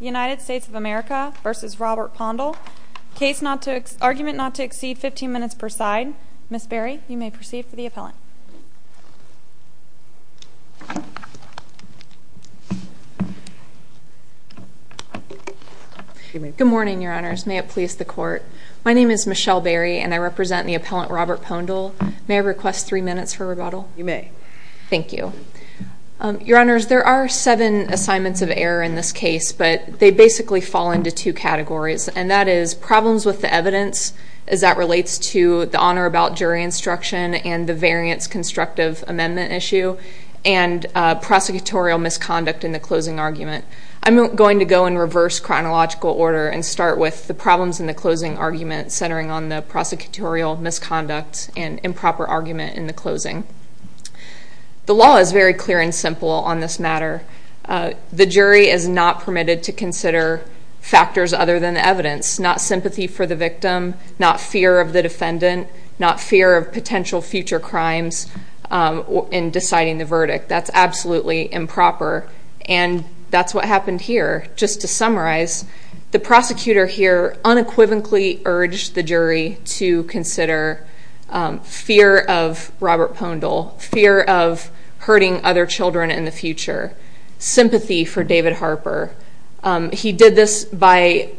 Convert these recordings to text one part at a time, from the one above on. United States of America v. Robert Poandl, case not to, argument not to exceed 15 minutes per side. Ms. Berry, you may proceed for the appellant. Good morning, your honors. May it please the court, my name is Michelle Berry and I represent the appellant Robert Poandl. May I request three minutes for rebuttal? You may. Thank you. Your honors, there are seven assignments of error in this case, but they basically fall into two categories and that is problems with the evidence as that relates to the honor about jury instruction and the variance constructive amendment issue and prosecutorial misconduct in the closing argument. I'm going to go in reverse chronological order and start with the problems in the closing argument centering on the prosecutorial misconduct and improper argument in the closing. The law is very clear and simple on this matter. The jury is not permitted to consider factors other than the evidence, not sympathy for the victim, not fear of the defendant, not fear of potential future crimes in deciding the verdict. That's absolutely improper and that's what happened here. Just to summarize, the prosecutor here unequivocally urged the jury to consider fear of Robert Poandl, fear of hurting other children in the future, sympathy for David Harper. He did this by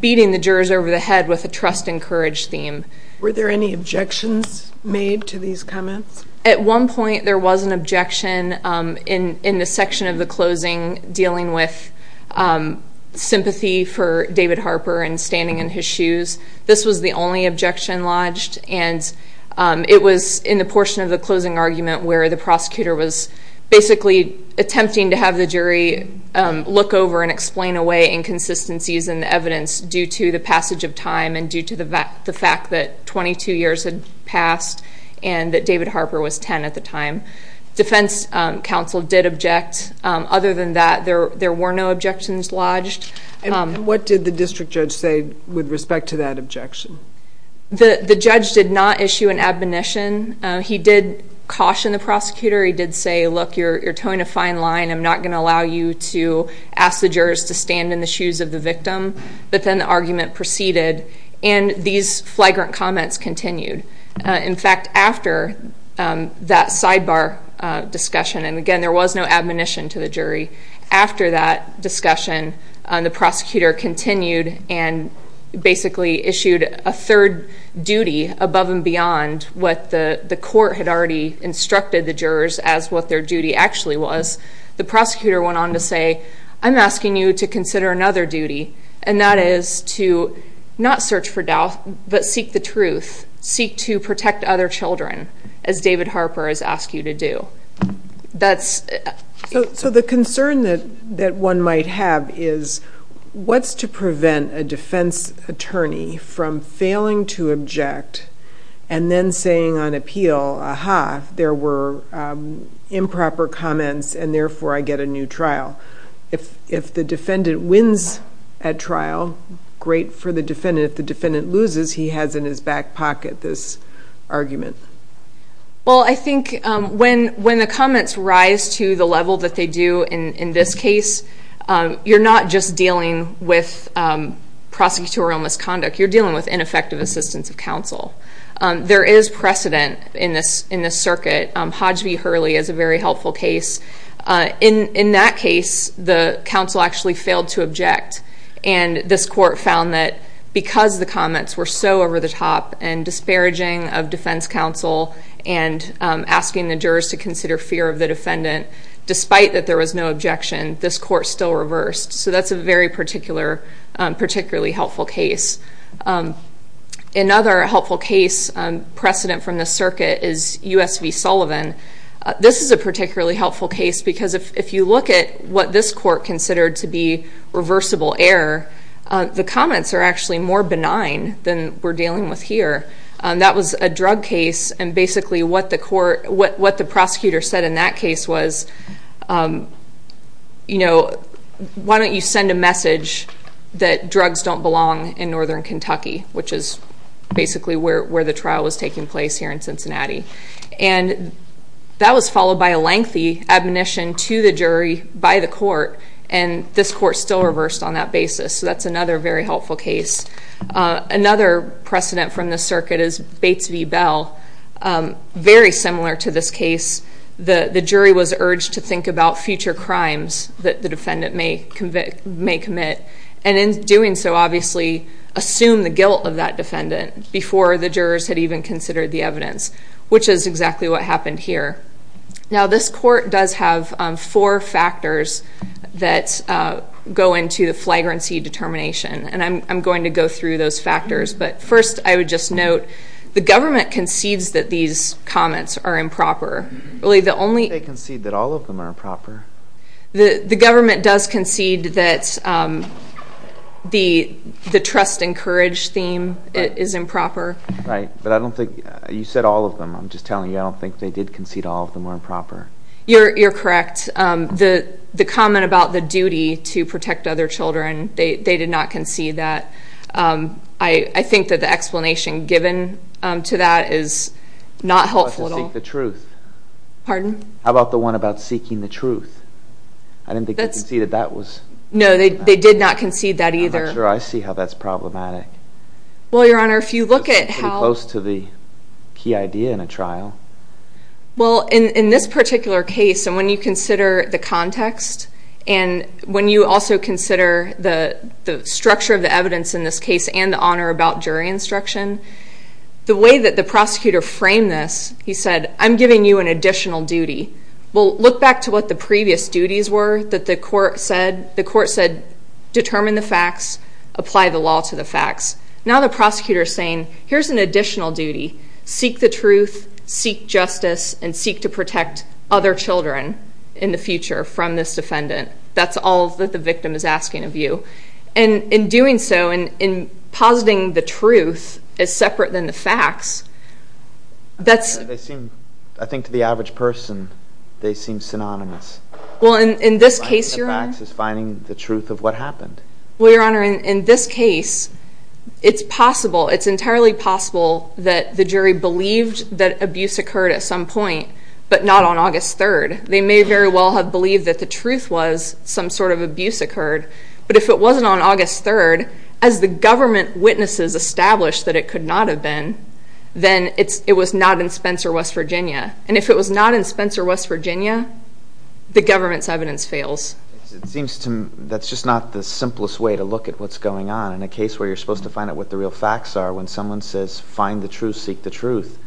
beating the jurors over the head with a trust and courage theme. Were there any objections made to these comments? At one point there was an objection in the section of the closing dealing with sympathy for David Harper and standing in his shoes. This was the only objection lodged and it was in the portion of the closing argument where the prosecutor was basically attempting to have the jury look over and explain away inconsistencies in the evidence due to the passage of time and due to the fact that 22 years had passed and that David Harper was 10 at the time. Defense counsel did object. Other than that, there were no objections lodged. What did the district judge say with respect to that objection? The judge did not issue an admonition. He did caution the prosecutor. He did say, look, you're towing a fine line. I'm not going to allow you to ask the jurors to stand in the shoes of the victim. But then the argument proceeded and these flagrant comments continued. In fact, after that sidebar discussion, and again, there was no admonition to the jury. After that discussion, the prosecutor continued and basically issued a third duty above and beyond what the court had already instructed the jurors as what their duty actually was. The prosecutor went on to say, I'm asking you to consider another duty and that is to not search for doubt, but seek the truth. Seek to protect other children as David Harper has asked you to do. So the concern that one might have is, what's to prevent a defense attorney from failing to object and then saying on appeal, aha, there were improper comments and therefore I get a new trial? If the defendant wins at trial, great for the defendant. If the defendant loses, he has in his back pocket this argument. Well, I think when the comments rise to the level that they do in this case, you're not just dealing with prosecutorial misconduct, you're dealing with ineffective assistance of counsel. There is precedent in this circuit. Hodge v. Hurley is a very helpful case. In that case, the counsel actually failed to object and this court found that because the comments were so over the top and disparaging of defense counsel and asking the jurors to consider fear of the defendant, despite that there was no objection, this court still reversed. So that's a very particular, particularly helpful case. Another helpful case precedent from this circuit is U.S. v. Sullivan. This is a particularly helpful case because if you look at what this court considered to be reversible error, the comments are actually more benign than we're dealing with here. That was a drug case and basically what the court, what the prosecutor said in that case was, you know, why don't you send a message that drugs don't belong in northern Kentucky, which is basically where the trial was taking place here in Cincinnati. And that was followed by a lengthy admonition to the jury by the court and this court still reversed on that basis. So that's another very helpful case. Another precedent from this circuit is Bates v. Bell. Very similar to this case, the jury was urged to think about future crimes that the defendant may commit and in doing so, obviously, assume the guilt of that defendant before the jurors had even considered the evidence, which is exactly what happened here. Now this court does have four factors that go into the flagrancy determination and I'm going to go through those factors, but first I would just note, the government concedes that these comments are improper. Really the only- They concede that all of them are improper. The government does concede that the trust and courage theme is improper. Right, but I don't think, you said all of them, I'm just telling you I don't think they did concede all of them were improper. You're correct. The comment about the duty to protect other children, they did not concede that. I think that the explanation given to that is not helpful at all. How about the one about seeking the truth? Pardon? How about the one about seeking the truth? I didn't think they conceded that was- No, they did not concede that either. I'm not sure I see how that's problematic. Well, your honor, if you look at how- It's pretty close to the key idea in a trial. Well, in this particular case, and when you consider the context and when you also consider the structure of the evidence in this case and the honor about jury instruction, the way that the prosecutor framed this, he said, I'm giving you an additional duty. Well, look back to what the previous duties were that the court said. Determine the facts, apply the law to the facts. Now the prosecutor is saying, here's an additional duty. Seek the truth, seek justice, and seek to protect other children in the future from this defendant. That's all that the victim is asking of you. In doing so, in positing the truth as separate than the facts, that's- They seem, I think to the average person, they seem synonymous. Well, in this case, your honor- Synonymous is finding the truth of what happened. Well, your honor, in this case, it's possible, it's entirely possible that the jury believed that abuse occurred at some point, but not on August 3rd. They may very well have believed that the truth was some sort of abuse occurred, but if it wasn't on August 3rd, as the government witnesses established that it could not have been, then it was not in Spencer, West Virginia. And if it was not in Spencer, West Virginia, the government's evidence fails. It seems to me that's just not the simplest way to look at what's going on in a case where you're supposed to find out what the real facts are when someone says, find the truth, seek the truth.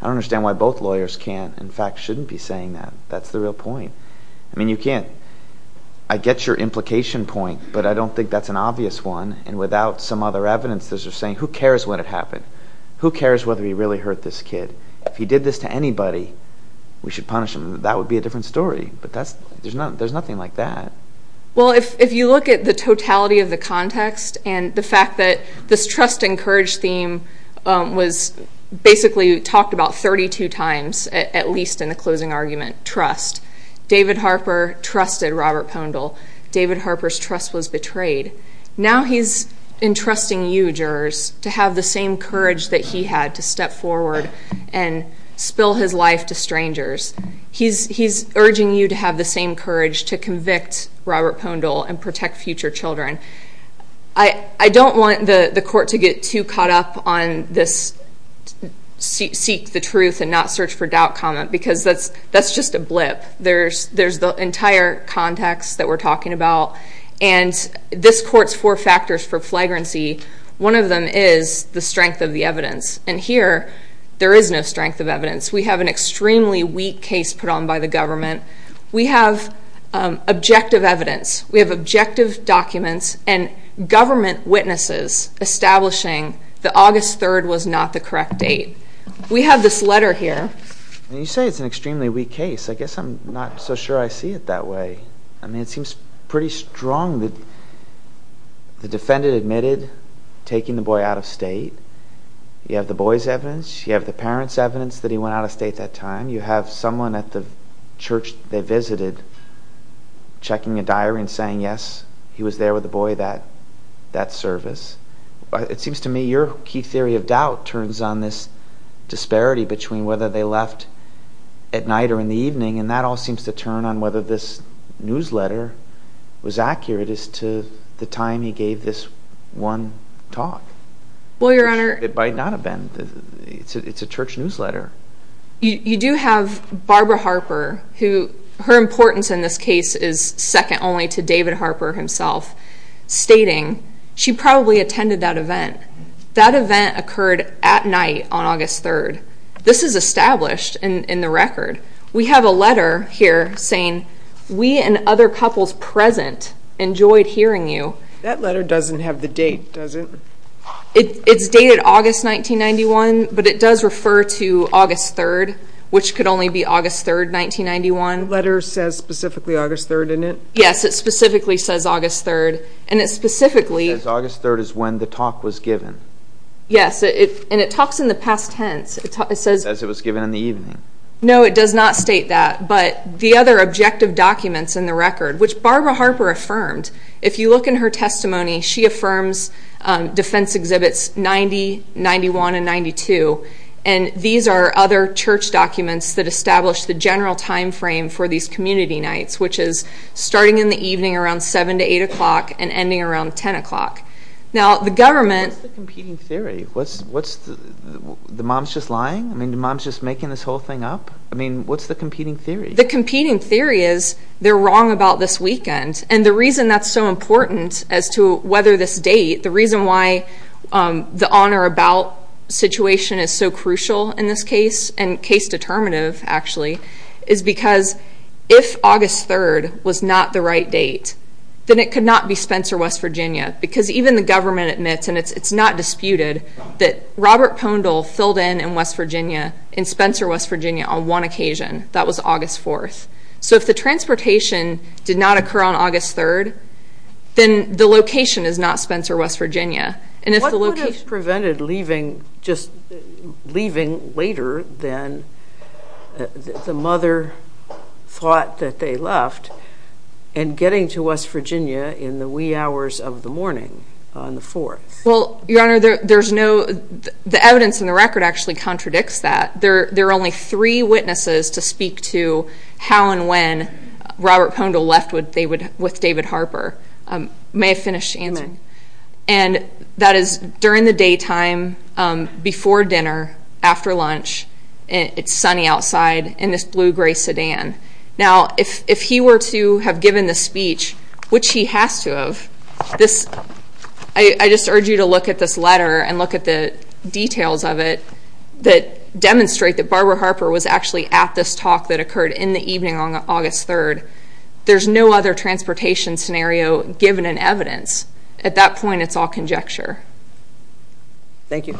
I don't understand why both lawyers can't, in fact, shouldn't be saying that. That's the real point. I mean, you can't- I get your implication point, but I don't think that's an obvious one, and without some other evidence, there's just saying, who cares when it happened? Who cares whether he really hurt this kid? If he did this to anybody, we should punish him. That would be a different story, but there's nothing like that. Well, if you look at the totality of the context and the fact that this trust and courage theme was basically talked about 32 times, at least in the closing argument, trust. David Harper trusted Robert Pondle. David Harper's trust was betrayed. Now he's entrusting you, jurors, to have the same courage that he had to step forward and spill his life to strangers. He's urging you to have the same courage to convict Robert Pondle and protect future children. I don't want the court to get too caught up on this seek the truth and not search for doubt comment, because that's just a blip. There's the entire context that we're talking about, and this court's four factors for flagrancy, one of them is the strength of the evidence, and here, there is no strength of evidence. We have an extremely weak case put on by the government. We have objective evidence. We have objective documents and government witnesses establishing that August 3rd was not the correct date. We have this letter here. You say it's an extremely weak case. I guess I'm not so sure I see it that way. I mean, it seems pretty strong that the defendant admitted taking the boy out of state. You have the boy's evidence. You have the parent's evidence that he went out of state that time. You have someone at the church they visited checking a diary and saying, yes, he was there with the boy that service. It seems to me your key theory of doubt turns on this disparity between whether they left at night or in the evening, and that all seems to turn on whether this newsletter was accurate as to the time he gave this one talk. Well, your honor. It might not have been. It's a church newsletter. You do have Barbara Harper, who her importance in this case is second only to David Harper himself stating she probably attended that event. That event occurred at night on August 3rd. This is established in the record. We have a letter here saying we and other couples present enjoyed hearing you. That letter doesn't have the date, does it? It's dated August 1991, but it does refer to August 3rd, which could only be August 3rd, 1991. The letter says specifically August 3rd, doesn't it? Yes, it specifically says August 3rd. And it specifically- It says August 3rd is when the talk was given. Yes, and it talks in the past tense. It says- It says it was given in the evening. No, it does not state that. But the other objective documents in the record, which Barbara Harper affirmed, if you look in her testimony, she affirms defense exhibits 90, 91, and 92. And these are other church documents that establish the general timeframe for these community nights, which is starting in the evening around 7 to 8 o'clock and ending around 10 o'clock. Now, the government- What's the competing theory? What's the- The mom's just lying? I mean, the mom's just making this whole thing up? I mean, what's the competing theory? The competing theory is they're wrong about this weekend. And the reason that's so important as to whether this date, the reason why the on or about situation is so crucial in this case, and case determinative, actually, is because if August 3rd was not the right date, then it could not be Spencer, West Virginia. Because even the government admits, and it's not disputed, that Robert Pondle filled in in West Virginia, in Spencer, West Virginia, on one occasion. That was August 4th. So, if the transportation did not occur on August 3rd, then the location is not Spencer, West Virginia. And if the location- What would have prevented leaving, just leaving later than the mother thought that they left, and getting to West Virginia in the wee hours of the morning on the 4th? Well, Your Honor, there's no- The evidence in the record actually contradicts that. There are only three witnesses to speak to how and when Robert Pondle left with David Harper. May I finish? And that is during the daytime, before dinner, after lunch, it's sunny outside, in this blue-gray sedan. Now, if he were to have given the speech, which he has to have, this- I just urge you to look at this letter and look at the details of it that demonstrate that Barbara Harper was actually at this talk that occurred in the evening on August 3rd. There's no other transportation scenario given in evidence. At that point, it's all conjecture. Thank you.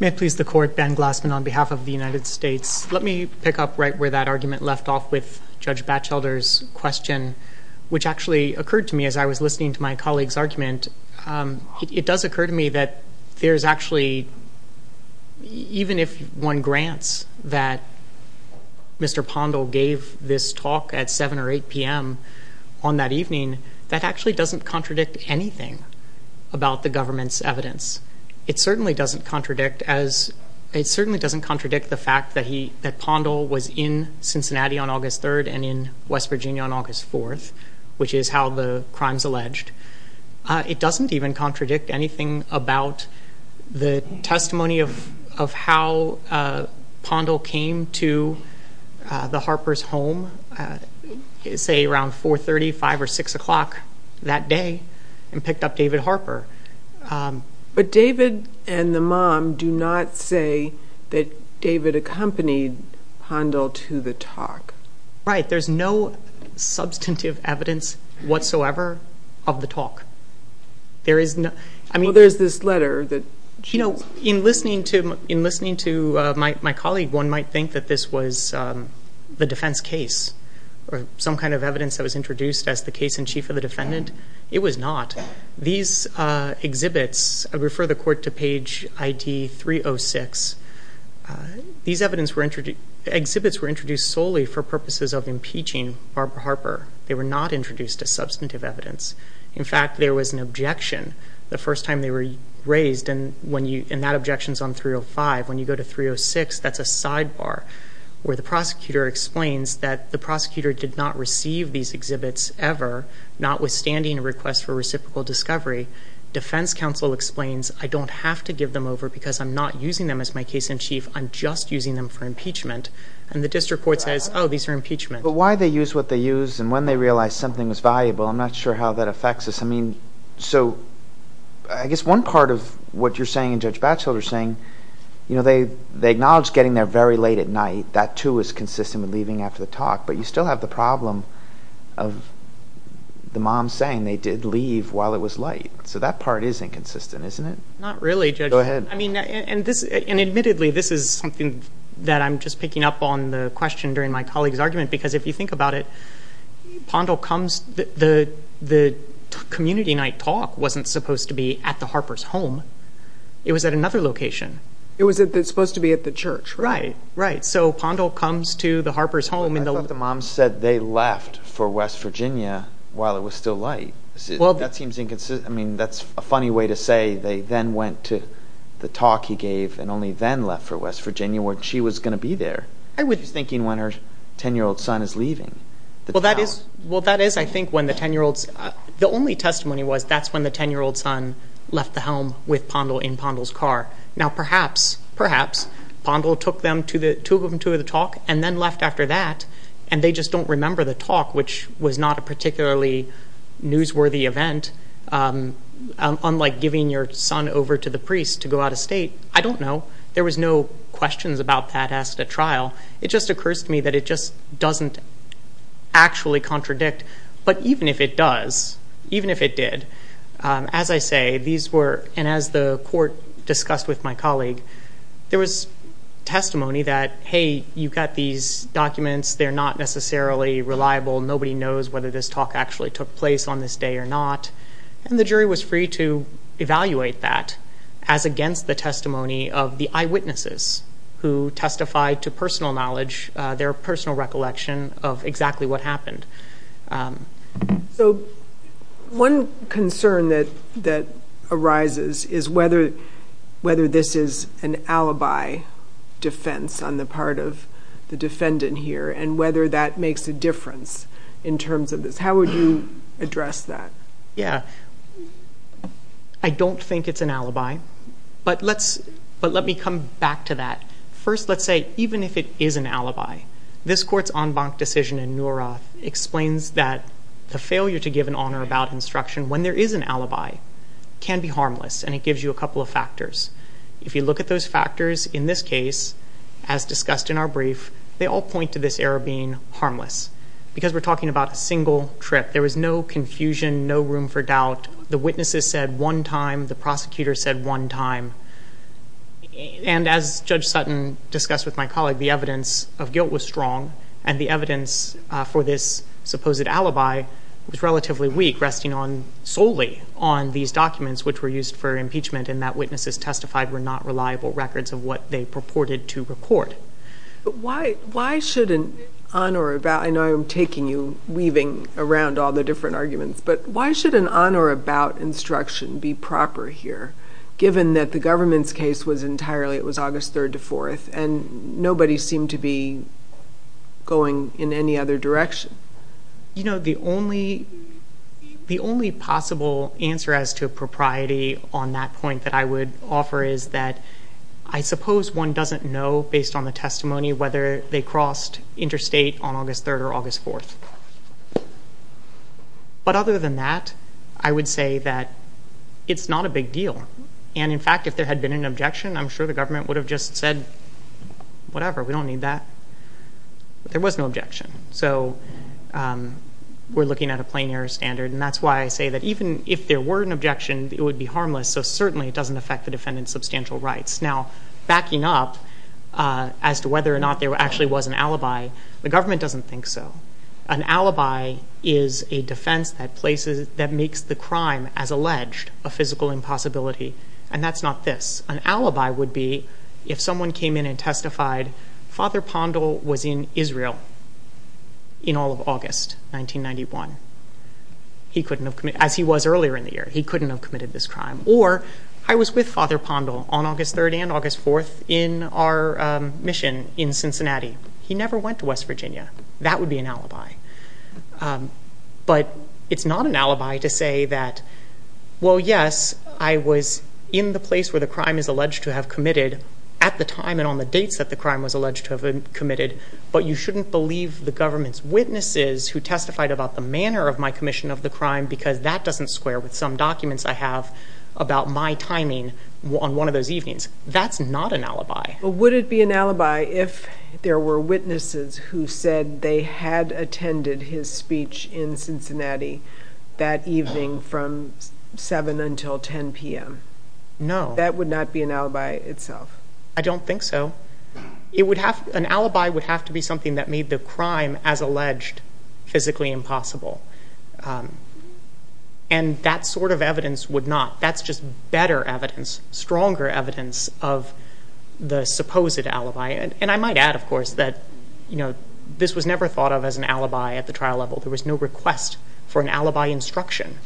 May it please the Court, Ben Glassman on behalf of the United States. Let me pick up right where that argument left off with Judge Batchelder's question, which actually occurred to me as I was listening to my colleague's argument. It does occur to me that there's actually- even if one grants that Mr. Pondle gave this talk at 7 or 8 p.m. on that evening, that actually doesn't contradict anything about the government's evidence. It certainly doesn't contradict the fact that Pondle was in Cincinnati on August 3rd and in West Virginia on August 4th, which is how the crime's alleged. It doesn't even contradict anything about the testimony of how Pondle came to the Harpers' home, say around 4.30, 5 or 6 o'clock that day, and picked up David Harper. But David and the mom do not say that David accompanied Pondle to the talk. Right. There's no substantive evidence whatsoever of the talk. There is no- Well, there's this letter that- You know, in listening to my colleague, one might think that this was the defense case or some kind of evidence that was introduced as the case in chief of the defendant. It was not. These exhibits, I refer the court to page ID 306, these exhibits were introduced solely for purposes of impeaching Barbara Harper. They were not introduced as substantive evidence. In fact, there was an objection the first time they were raised, and that objection's on 305. When you go to 306, that's a sidebar where the prosecutor explains that the prosecutor did not receive these exhibits ever, notwithstanding a request for reciprocal discovery. Defense counsel explains, I don't have to give them over because I'm not using them as my case in chief, I'm just using them for impeachment. And the district court says, oh, these are impeachment. But why they use what they use, and when they realize something was valuable, I'm not sure how that affects us. I mean, so, I guess one part of what you're saying and Judge Batchelor's saying, you know, they acknowledge getting there very late at night. That, too, is consistent with leaving after the talk. But you still have the problem of the mom saying they did leave while it was light. So, that part is inconsistent, isn't it? Not really, Judge. Go ahead. I mean, and this, and admittedly, this is something that I'm just picking up on the question during my colleague's argument. Because if you think about it, Pondell comes, the community night talk wasn't supposed to be at the Harper's home. It was at another location. It was supposed to be at the church, right? Right. So, Pondell comes to the Harper's home. I thought the mom said they left for West Virginia while it was still light. That seems inconsistent. I mean, that's a funny way to say they then went to the talk he gave and only then left for West Virginia when she was going to be there. I was thinking when her 10-year-old son is leaving. Well, that is, I think, when the 10-year-old's, the only testimony was that's when the 10-year-old son left the home with Pondell in Pondell's car. Now, perhaps, perhaps Pondell took them to the talk and then left after that and they just don't remember the talk, which was not a particularly newsworthy event. Unlike giving your son over to the priest to go out of state. I don't know. There was no questions about that at the trial. It just occurs to me that it just doesn't actually contradict. But even if it does, even if it did, as I say, these were, and as the court discussed with my colleague, there was testimony that, hey, you've got these documents, they're not necessarily reliable, nobody knows whether this talk actually took place on this day or not. And the jury was free to evaluate that as against the testimony of the eyewitnesses who testified to personal knowledge, their personal recollection of exactly what happened. So one concern that arises is whether this is an alibi defense on the part of the defendant here and whether that makes a difference in terms of this. How would you address that? Yeah. I don't think it's an alibi, but let me come back to that. First, let's say, even if it is an alibi, this court's en banc decision in Nuroth explains that the failure to give an honor about instruction when there is an alibi can be harmless, and it gives you a couple of factors. If you look at those factors in this case, as discussed in our brief, they all point to this error being harmless, because we're talking about a single trip. There was no confusion, no room for doubt. The witnesses said one time, the prosecutor said one time. And as Judge Sutton discussed with my colleague, the evidence of guilt was strong, and the evidence for this supposed alibi was relatively weak, resting solely on these documents, which were used for impeachment, and that witnesses testified were not reliable records of what they purported to report. Why should an honor about, I know I'm taking you, weaving around all the different arguments, but why should an honor about instruction be proper here, given that the government's case was entirely, it was August 3rd to 4th, and nobody seemed to be going in any other direction? You know, the only possible answer as to a propriety on that point that I would offer is that I suppose one doesn't know, based on the testimony, whether they crossed interstate on August 3rd or August 4th. But other than that, I would say that it's not a big deal. And in fact, if there had been an objection, I'm sure the government would have just said, whatever, we don't need that. But there was no objection. So we're looking at a plain error standard. And that's why I say that even if there were an objection, it would be harmless. So certainly it doesn't affect the defendant's substantial rights. Now, backing up as to whether or not there actually was an alibi, the government doesn't think so. An alibi is a defense that makes the crime as alleged a physical impossibility. And that's not this. An alibi would be if someone came in and testified, Father Pondell was in Israel in all of August 1991. He couldn't have committed, as he was earlier in the year, he couldn't have committed this crime. Or I was with Father Pondell on August 3rd and August 4th in our mission in Cincinnati. He never went to West Virginia. That would be an alibi. But it's not an alibi to say that, well, yes, I was in the place where the crime is alleged to have committed at the time and on the dates that the crime was alleged to have been committed. But you shouldn't believe the government's witnesses who testified about the manner of my commission of the crime, because that doesn't square with some documents I have about my timing on one of those evenings. That's not an alibi. But would it be an alibi if there were witnesses who said they had attended his speech in Cincinnati that evening from 7 until 10 PM? No. That would not be an alibi itself. I don't think so. An alibi would have to be something that made the crime, as alleged, physically impossible. And that sort of evidence would not. That's just better evidence, stronger evidence of the supposed alibi. And I might add, of course, that this was never thought of as an alibi at the trial level. There was no request for an alibi instruction.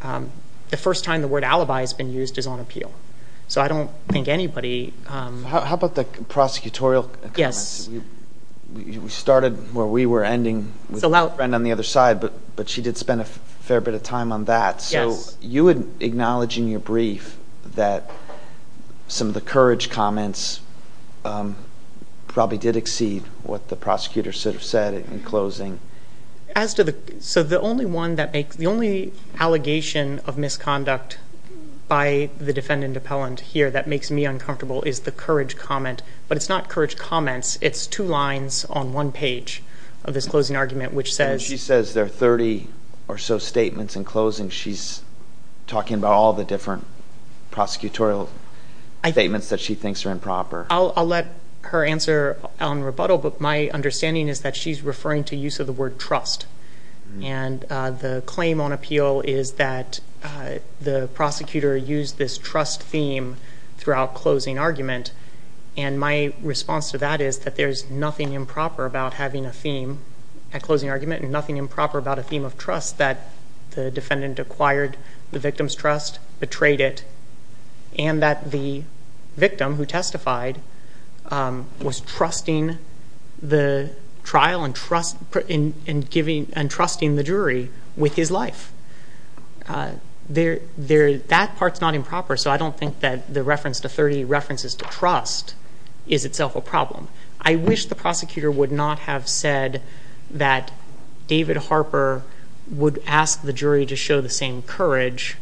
The first time the word alibi has been used is on appeal. So I don't think anybody- How about the prosecutorial comments? Yes. We started where we were ending with a friend on the other side, but she did spend a fair bit of time on that. So you would acknowledge in your brief that some of the courage comments probably did exceed what the prosecutor should have said in closing. So the only one that makes, the only allegation of misconduct by the defendant appellant here that makes me uncomfortable is the courage comment. But it's not courage comments, it's two lines on one page of this closing argument which says- And she says there are 30 or so statements in closing. She's talking about all the different prosecutorial statements that she thinks are improper. I'll let her answer on rebuttal, but my understanding is that she's referring to use of the word trust. And the claim on appeal is that the prosecutor used this trust theme throughout closing argument. And my response to that is that there's nothing improper about having a theme at closing argument and nothing improper about a theme of trust that the defendant acquired the victim's trust, betrayed it. And that the victim who testified was trusting the trial and trusting the jury with his life. That part's not improper, so I don't think that the reference to 30 references to trust is itself a problem. I wish the prosecutor would not have said that David Harper would ask the jury to show the same courage.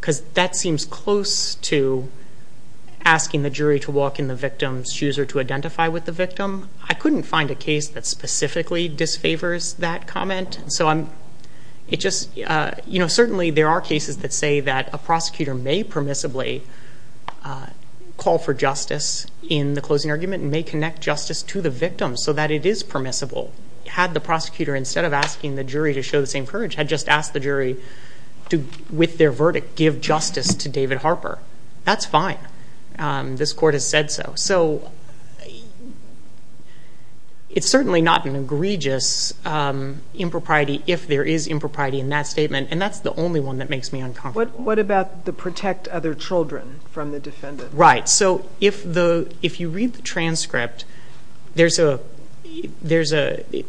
Cuz that seems close to asking the jury to walk in the victim's shoes or to identify with the victim. I couldn't find a case that specifically disfavors that comment. So certainly there are cases that say that a prosecutor may permissibly call for justice in the closing argument and may connect justice to the victim so that it is permissible. Had the prosecutor, instead of asking the jury to show the same courage, had just asked the jury to, with their verdict, give justice to David Harper. That's fine. This court has said so. So it's certainly not an egregious impropriety if there is impropriety in that statement. And that's the only one that makes me uncomfortable. What about the protect other children from the defendant? Right, so if you read the transcript, the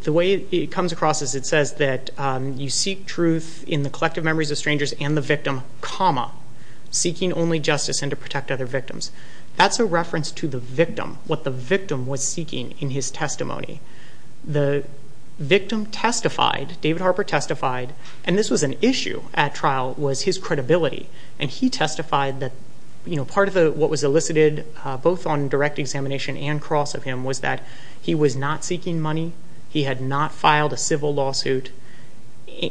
way it comes across is it says that you seek truth in the collective memories of strangers and the victim, comma, seeking only justice and to protect other victims. That's a reference to the victim, what the victim was seeking in his testimony. The victim testified, David Harper testified, and this was an issue at trial, was his credibility. And he testified that part of what was elicited both on direct examination and across of him was that he was not seeking money, he had not filed a civil lawsuit.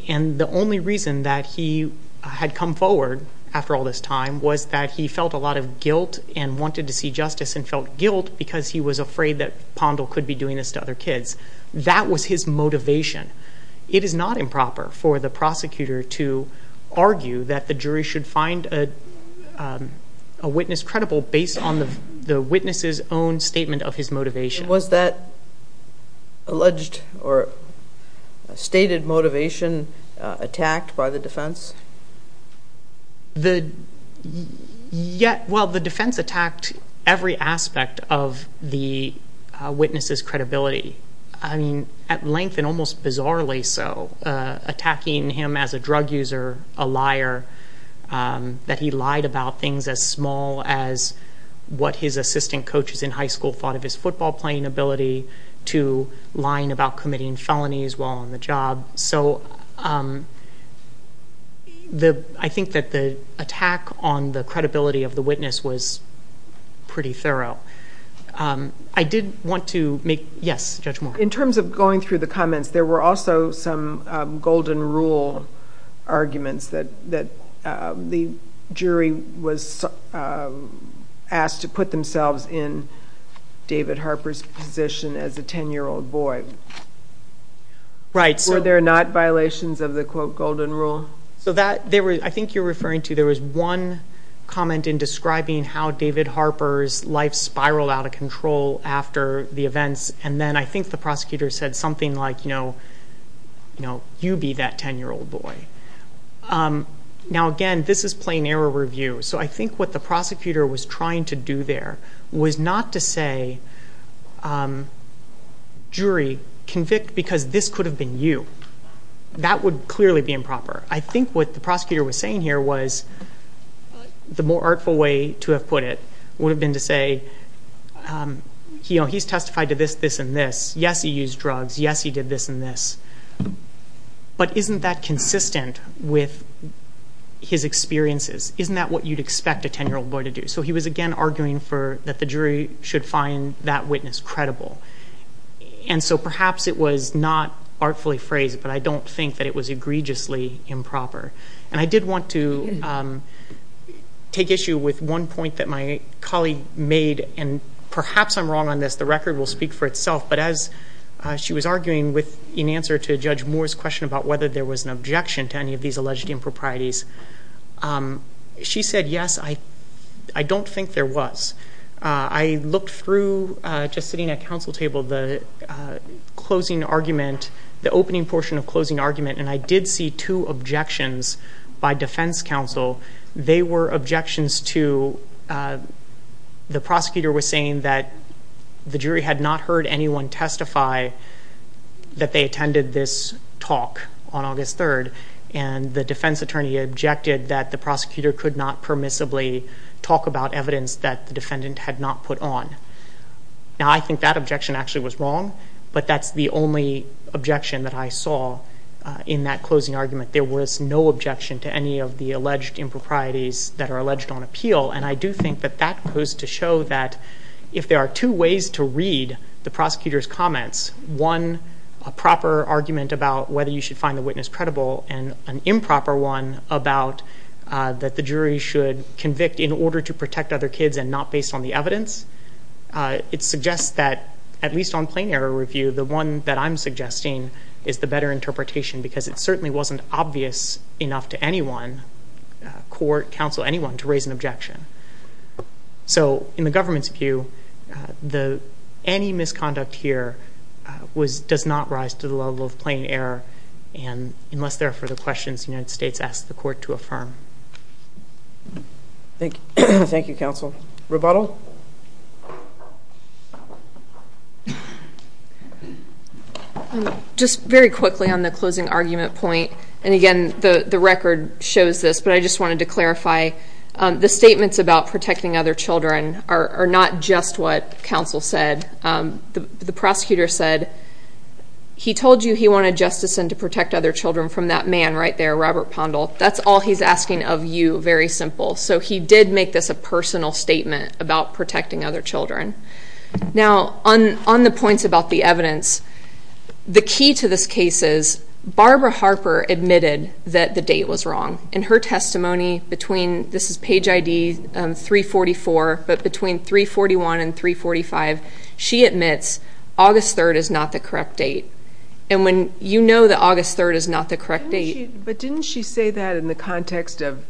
And the only reason that he had come forward after all this time was that he felt a lot of guilt and wanted to see justice and felt guilt because he was afraid that Pondle could be doing this to other kids. That was his motivation. It is not improper for the prosecutor to argue that the jury should find a witness credible based on the witness's own statement of his motivation. Was that alleged or stated motivation attacked by the defense? The, yet, well, the defense attacked every aspect of the witness's credibility. I mean, at length and almost bizarrely so, attacking him as a drug user, a liar, that he lied about things as small as what his assistant coaches in high school thought of his football playing ability, to lying about committing felonies while on the job. So, I think that the attack on the credibility of the witness was pretty thorough. I did want to make, yes, Judge Moore. In terms of going through the comments, there were also some golden rule arguments that the jury was asked to put themselves in David Harper's position as a ten-year-old boy. Right. Were there not violations of the quote golden rule? So that, I think you're referring to, there was one comment in describing how David Harper's life spiraled out of control after the events. And then I think the prosecutor said something like, you know, you be that ten-year-old boy. Now again, this is plain error review. So I think what the prosecutor was trying to do there was not to say, jury, convict because this could have been you. That would clearly be improper. I think what the prosecutor was saying here was, the more artful way to have put it, would have been to say, he's testified to this, this, and this. Yes, he used drugs. Yes, he did this and this. But isn't that consistent with his experiences? Isn't that what you'd expect a ten-year-old boy to do? So he was again arguing that the jury should find that witness credible. And so perhaps it was not artfully phrased, but I don't think that it was egregiously improper. And I did want to take issue with one point that my colleague made. And perhaps I'm wrong on this. The record will speak for itself. But as she was arguing in answer to Judge Moore's question about whether there was an objection to any of these alleged improprieties, she said, yes, I don't think there was. I looked through, just sitting at council table, the opening portion of closing argument. And I did see two objections by defense counsel. They were objections to, the prosecutor was saying that the jury had not heard anyone testify that they attended this talk on August 3rd. And the defense attorney objected that the prosecutor could not permissibly talk about evidence that the defendant had not put on. Now, I think that objection actually was wrong. But that's the only objection that I saw in that closing argument. There was no objection to any of the alleged improprieties that are alleged on appeal. And I do think that that goes to show that if there are two ways to read the prosecutor's comments, one, a proper argument about whether you should find the witness credible, and an improper one about that the jury should convict in order to protect other kids and not based on the evidence. It suggests that, at least on plain error review, the one that I'm suggesting is the better interpretation. Because it certainly wasn't obvious enough to anyone, court, counsel, anyone, to raise an objection. So in the government's view, any misconduct here does not rise to the level of plain error. And unless there are further questions, the United States asks the court to affirm. Thank you, counsel. Rebuttal? Just very quickly on the closing argument point. And again, the record shows this. But I just wanted to clarify, the statements about protecting other children are not just what counsel said. The prosecutor said, he told you he wanted justice and to protect other children from that man right there, Robert Pondle. That's all he's asking of you, very simple. So he did make this a personal statement about protecting other children. Now, on the points about the evidence, the key to this case is Barbara Harper admitted that the date was wrong. In her testimony between, this is page ID 344, but between 341 and 345, she admits August 3rd is not the correct date. And when you know that August 3rd is not the correct date- But didn't she say that in the context of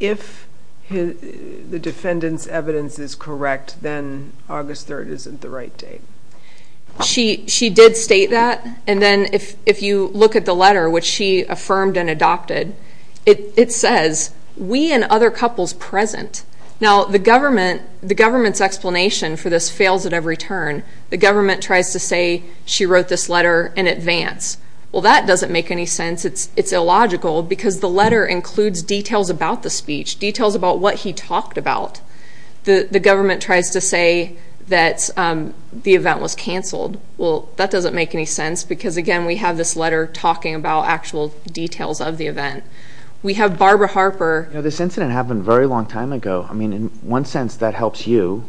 if the defendant's evidence is correct, then August 3rd isn't the right date? She did state that. And then if you look at the letter, which she affirmed and adopted, it says, we and other couples present. Now, the government's explanation for this fails at every turn. The government tries to say, she wrote this letter in advance. Well, that doesn't make any sense. It's illogical because the letter includes details about the speech, details about what he talked about. The government tries to say that the event was canceled. Well, that doesn't make any sense because, again, we have this letter talking about actual details of the event. We have Barbara Harper- This incident happened a very long time ago. I mean, in one sense, that helps you.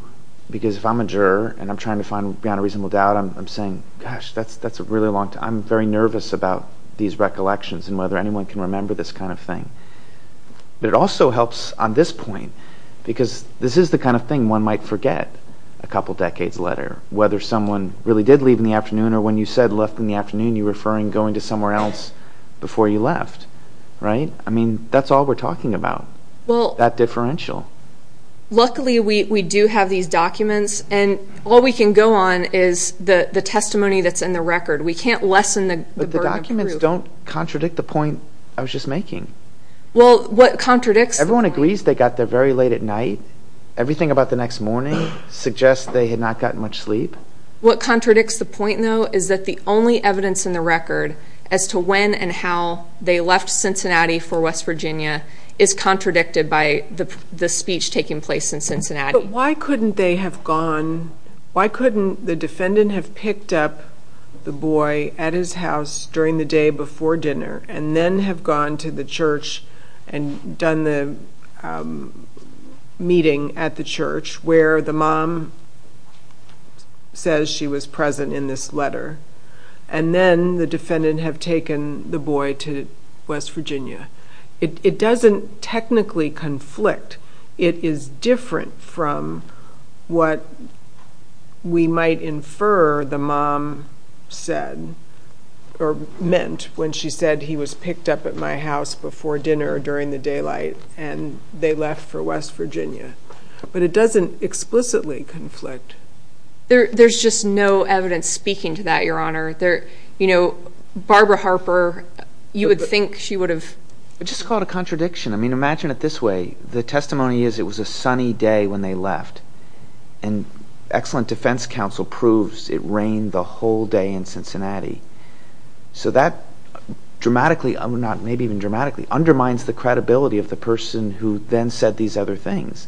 Because if I'm a juror and I'm trying to find beyond a reasonable doubt, I'm saying, gosh, that's a really long time. I'm very nervous about these recollections and whether anyone can remember this kind of thing. But it also helps on this point because this is the kind of thing one might forget a couple decades later, whether someone really did leave in the afternoon or when you said left in the afternoon, you're referring going to somewhere else before you left, right? I mean, that's all we're talking about, that differential. Luckily, we do have these documents. And all we can go on is the testimony that's in the record. We can't lessen the burden of proof. But the documents don't contradict the point I was just making. Well, what contradicts- Everyone agrees they got there very late at night. Everything about the next morning suggests they had not gotten much sleep. What contradicts the point, though, is that the only evidence in the record as to when and how they left Cincinnati for West Virginia is contradicted by the speech taking place in Cincinnati. Why couldn't the defendant have picked up the boy at his house during the day before dinner and then have gone to the church and done the meeting at the church where the mom says she was present in this letter and then the defendant have taken the boy to West Virginia? It doesn't technically conflict. It is different from what we might infer the mom said or meant when she said he was picked up at my house before dinner during the daylight and they left for West Virginia. But it doesn't explicitly conflict. There's just no evidence speaking to that, Your Honor. You know, Barbara Harper, you would think she would have- Just call it a contradiction. Imagine it this way. The testimony is it was a sunny day when they left and excellent defense counsel proves it rained the whole day in Cincinnati. So that dramatically, not maybe even dramatically, undermines the credibility of the person who then said these other things.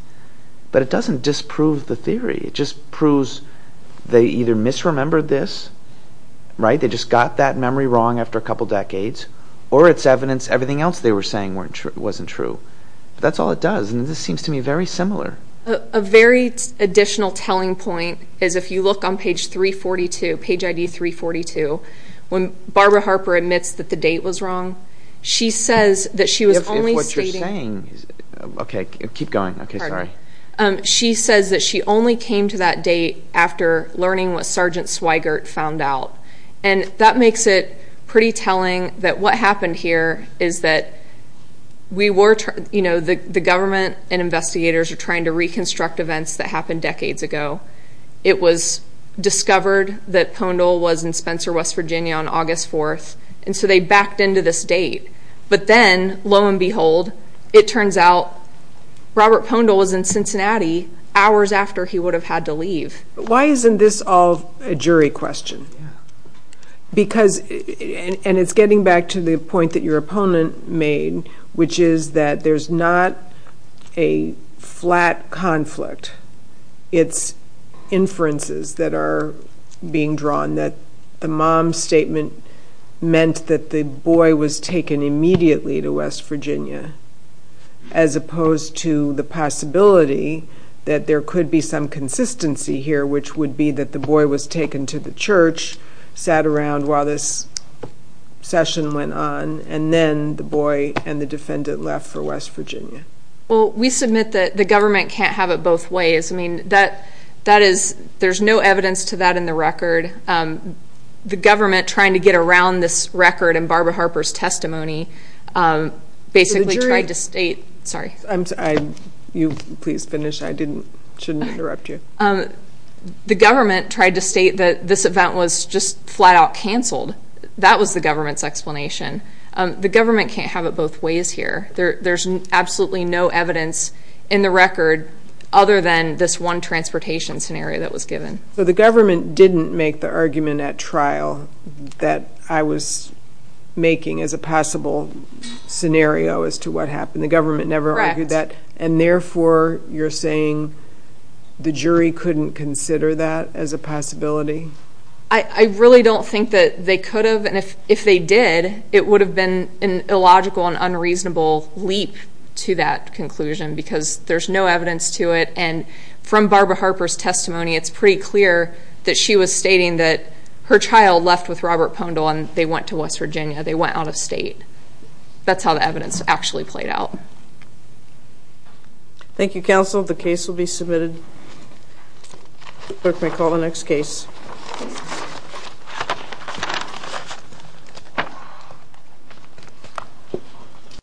But it doesn't disprove the theory. It just proves they either misremembered this, right? They just got that memory wrong after a couple decades or it's evidence everything else they were saying wasn't true. But that's all it does. And this seems to me very similar. A very additional telling point is if you look on page 342, page ID 342, when Barbara Harper admits that the date was wrong, she says that she was only stating- If what you're saying- Okay, keep going. Okay, sorry. She says that she only came to that date after learning what Sergeant Swigert found out. And that makes it pretty telling that what happened here is that the government and investigators are trying to reconstruct events that happened decades ago. It was discovered that Pondle was in Spencer, West Virginia on August 4th. And so they backed into this date. But then lo and behold, it turns out Robert Pondle was in Cincinnati hours after he would have had to leave. Why isn't this all a jury question? Because, and it's getting back to the point that your opponent made, which is that there's not a flat conflict. It's inferences that are being drawn that the mom's statement meant that the boy was taken immediately to West Virginia, as opposed to the possibility that there could be some consistency here, sat around while this session went on. And then the boy and the defendant left for West Virginia. Well, we submit that the government can't have it both ways. I mean, there's no evidence to that in the record. The government trying to get around this record and Barbara Harper's testimony basically tried to state- You please finish. I shouldn't interrupt you. The government tried to state that this event was just flat out canceled. That was the government's explanation. The government can't have it both ways here. There's absolutely no evidence in the record other than this one transportation scenario that was given. So the government didn't make the argument at trial that I was making as a possible scenario as to what happened. The government never argued that. And therefore, you're saying the jury couldn't consider that as a possibility? I really don't think that they could have. And if they did, it would have been an illogical and unreasonable leap to that conclusion because there's no evidence to it. And from Barbara Harper's testimony, it's pretty clear that she was stating that her child left with Robert Pondle and they went to West Virginia. They went out of state. That's how the evidence actually played out. Thank you, counsel. The case will be submitted. Clerk may call the next case.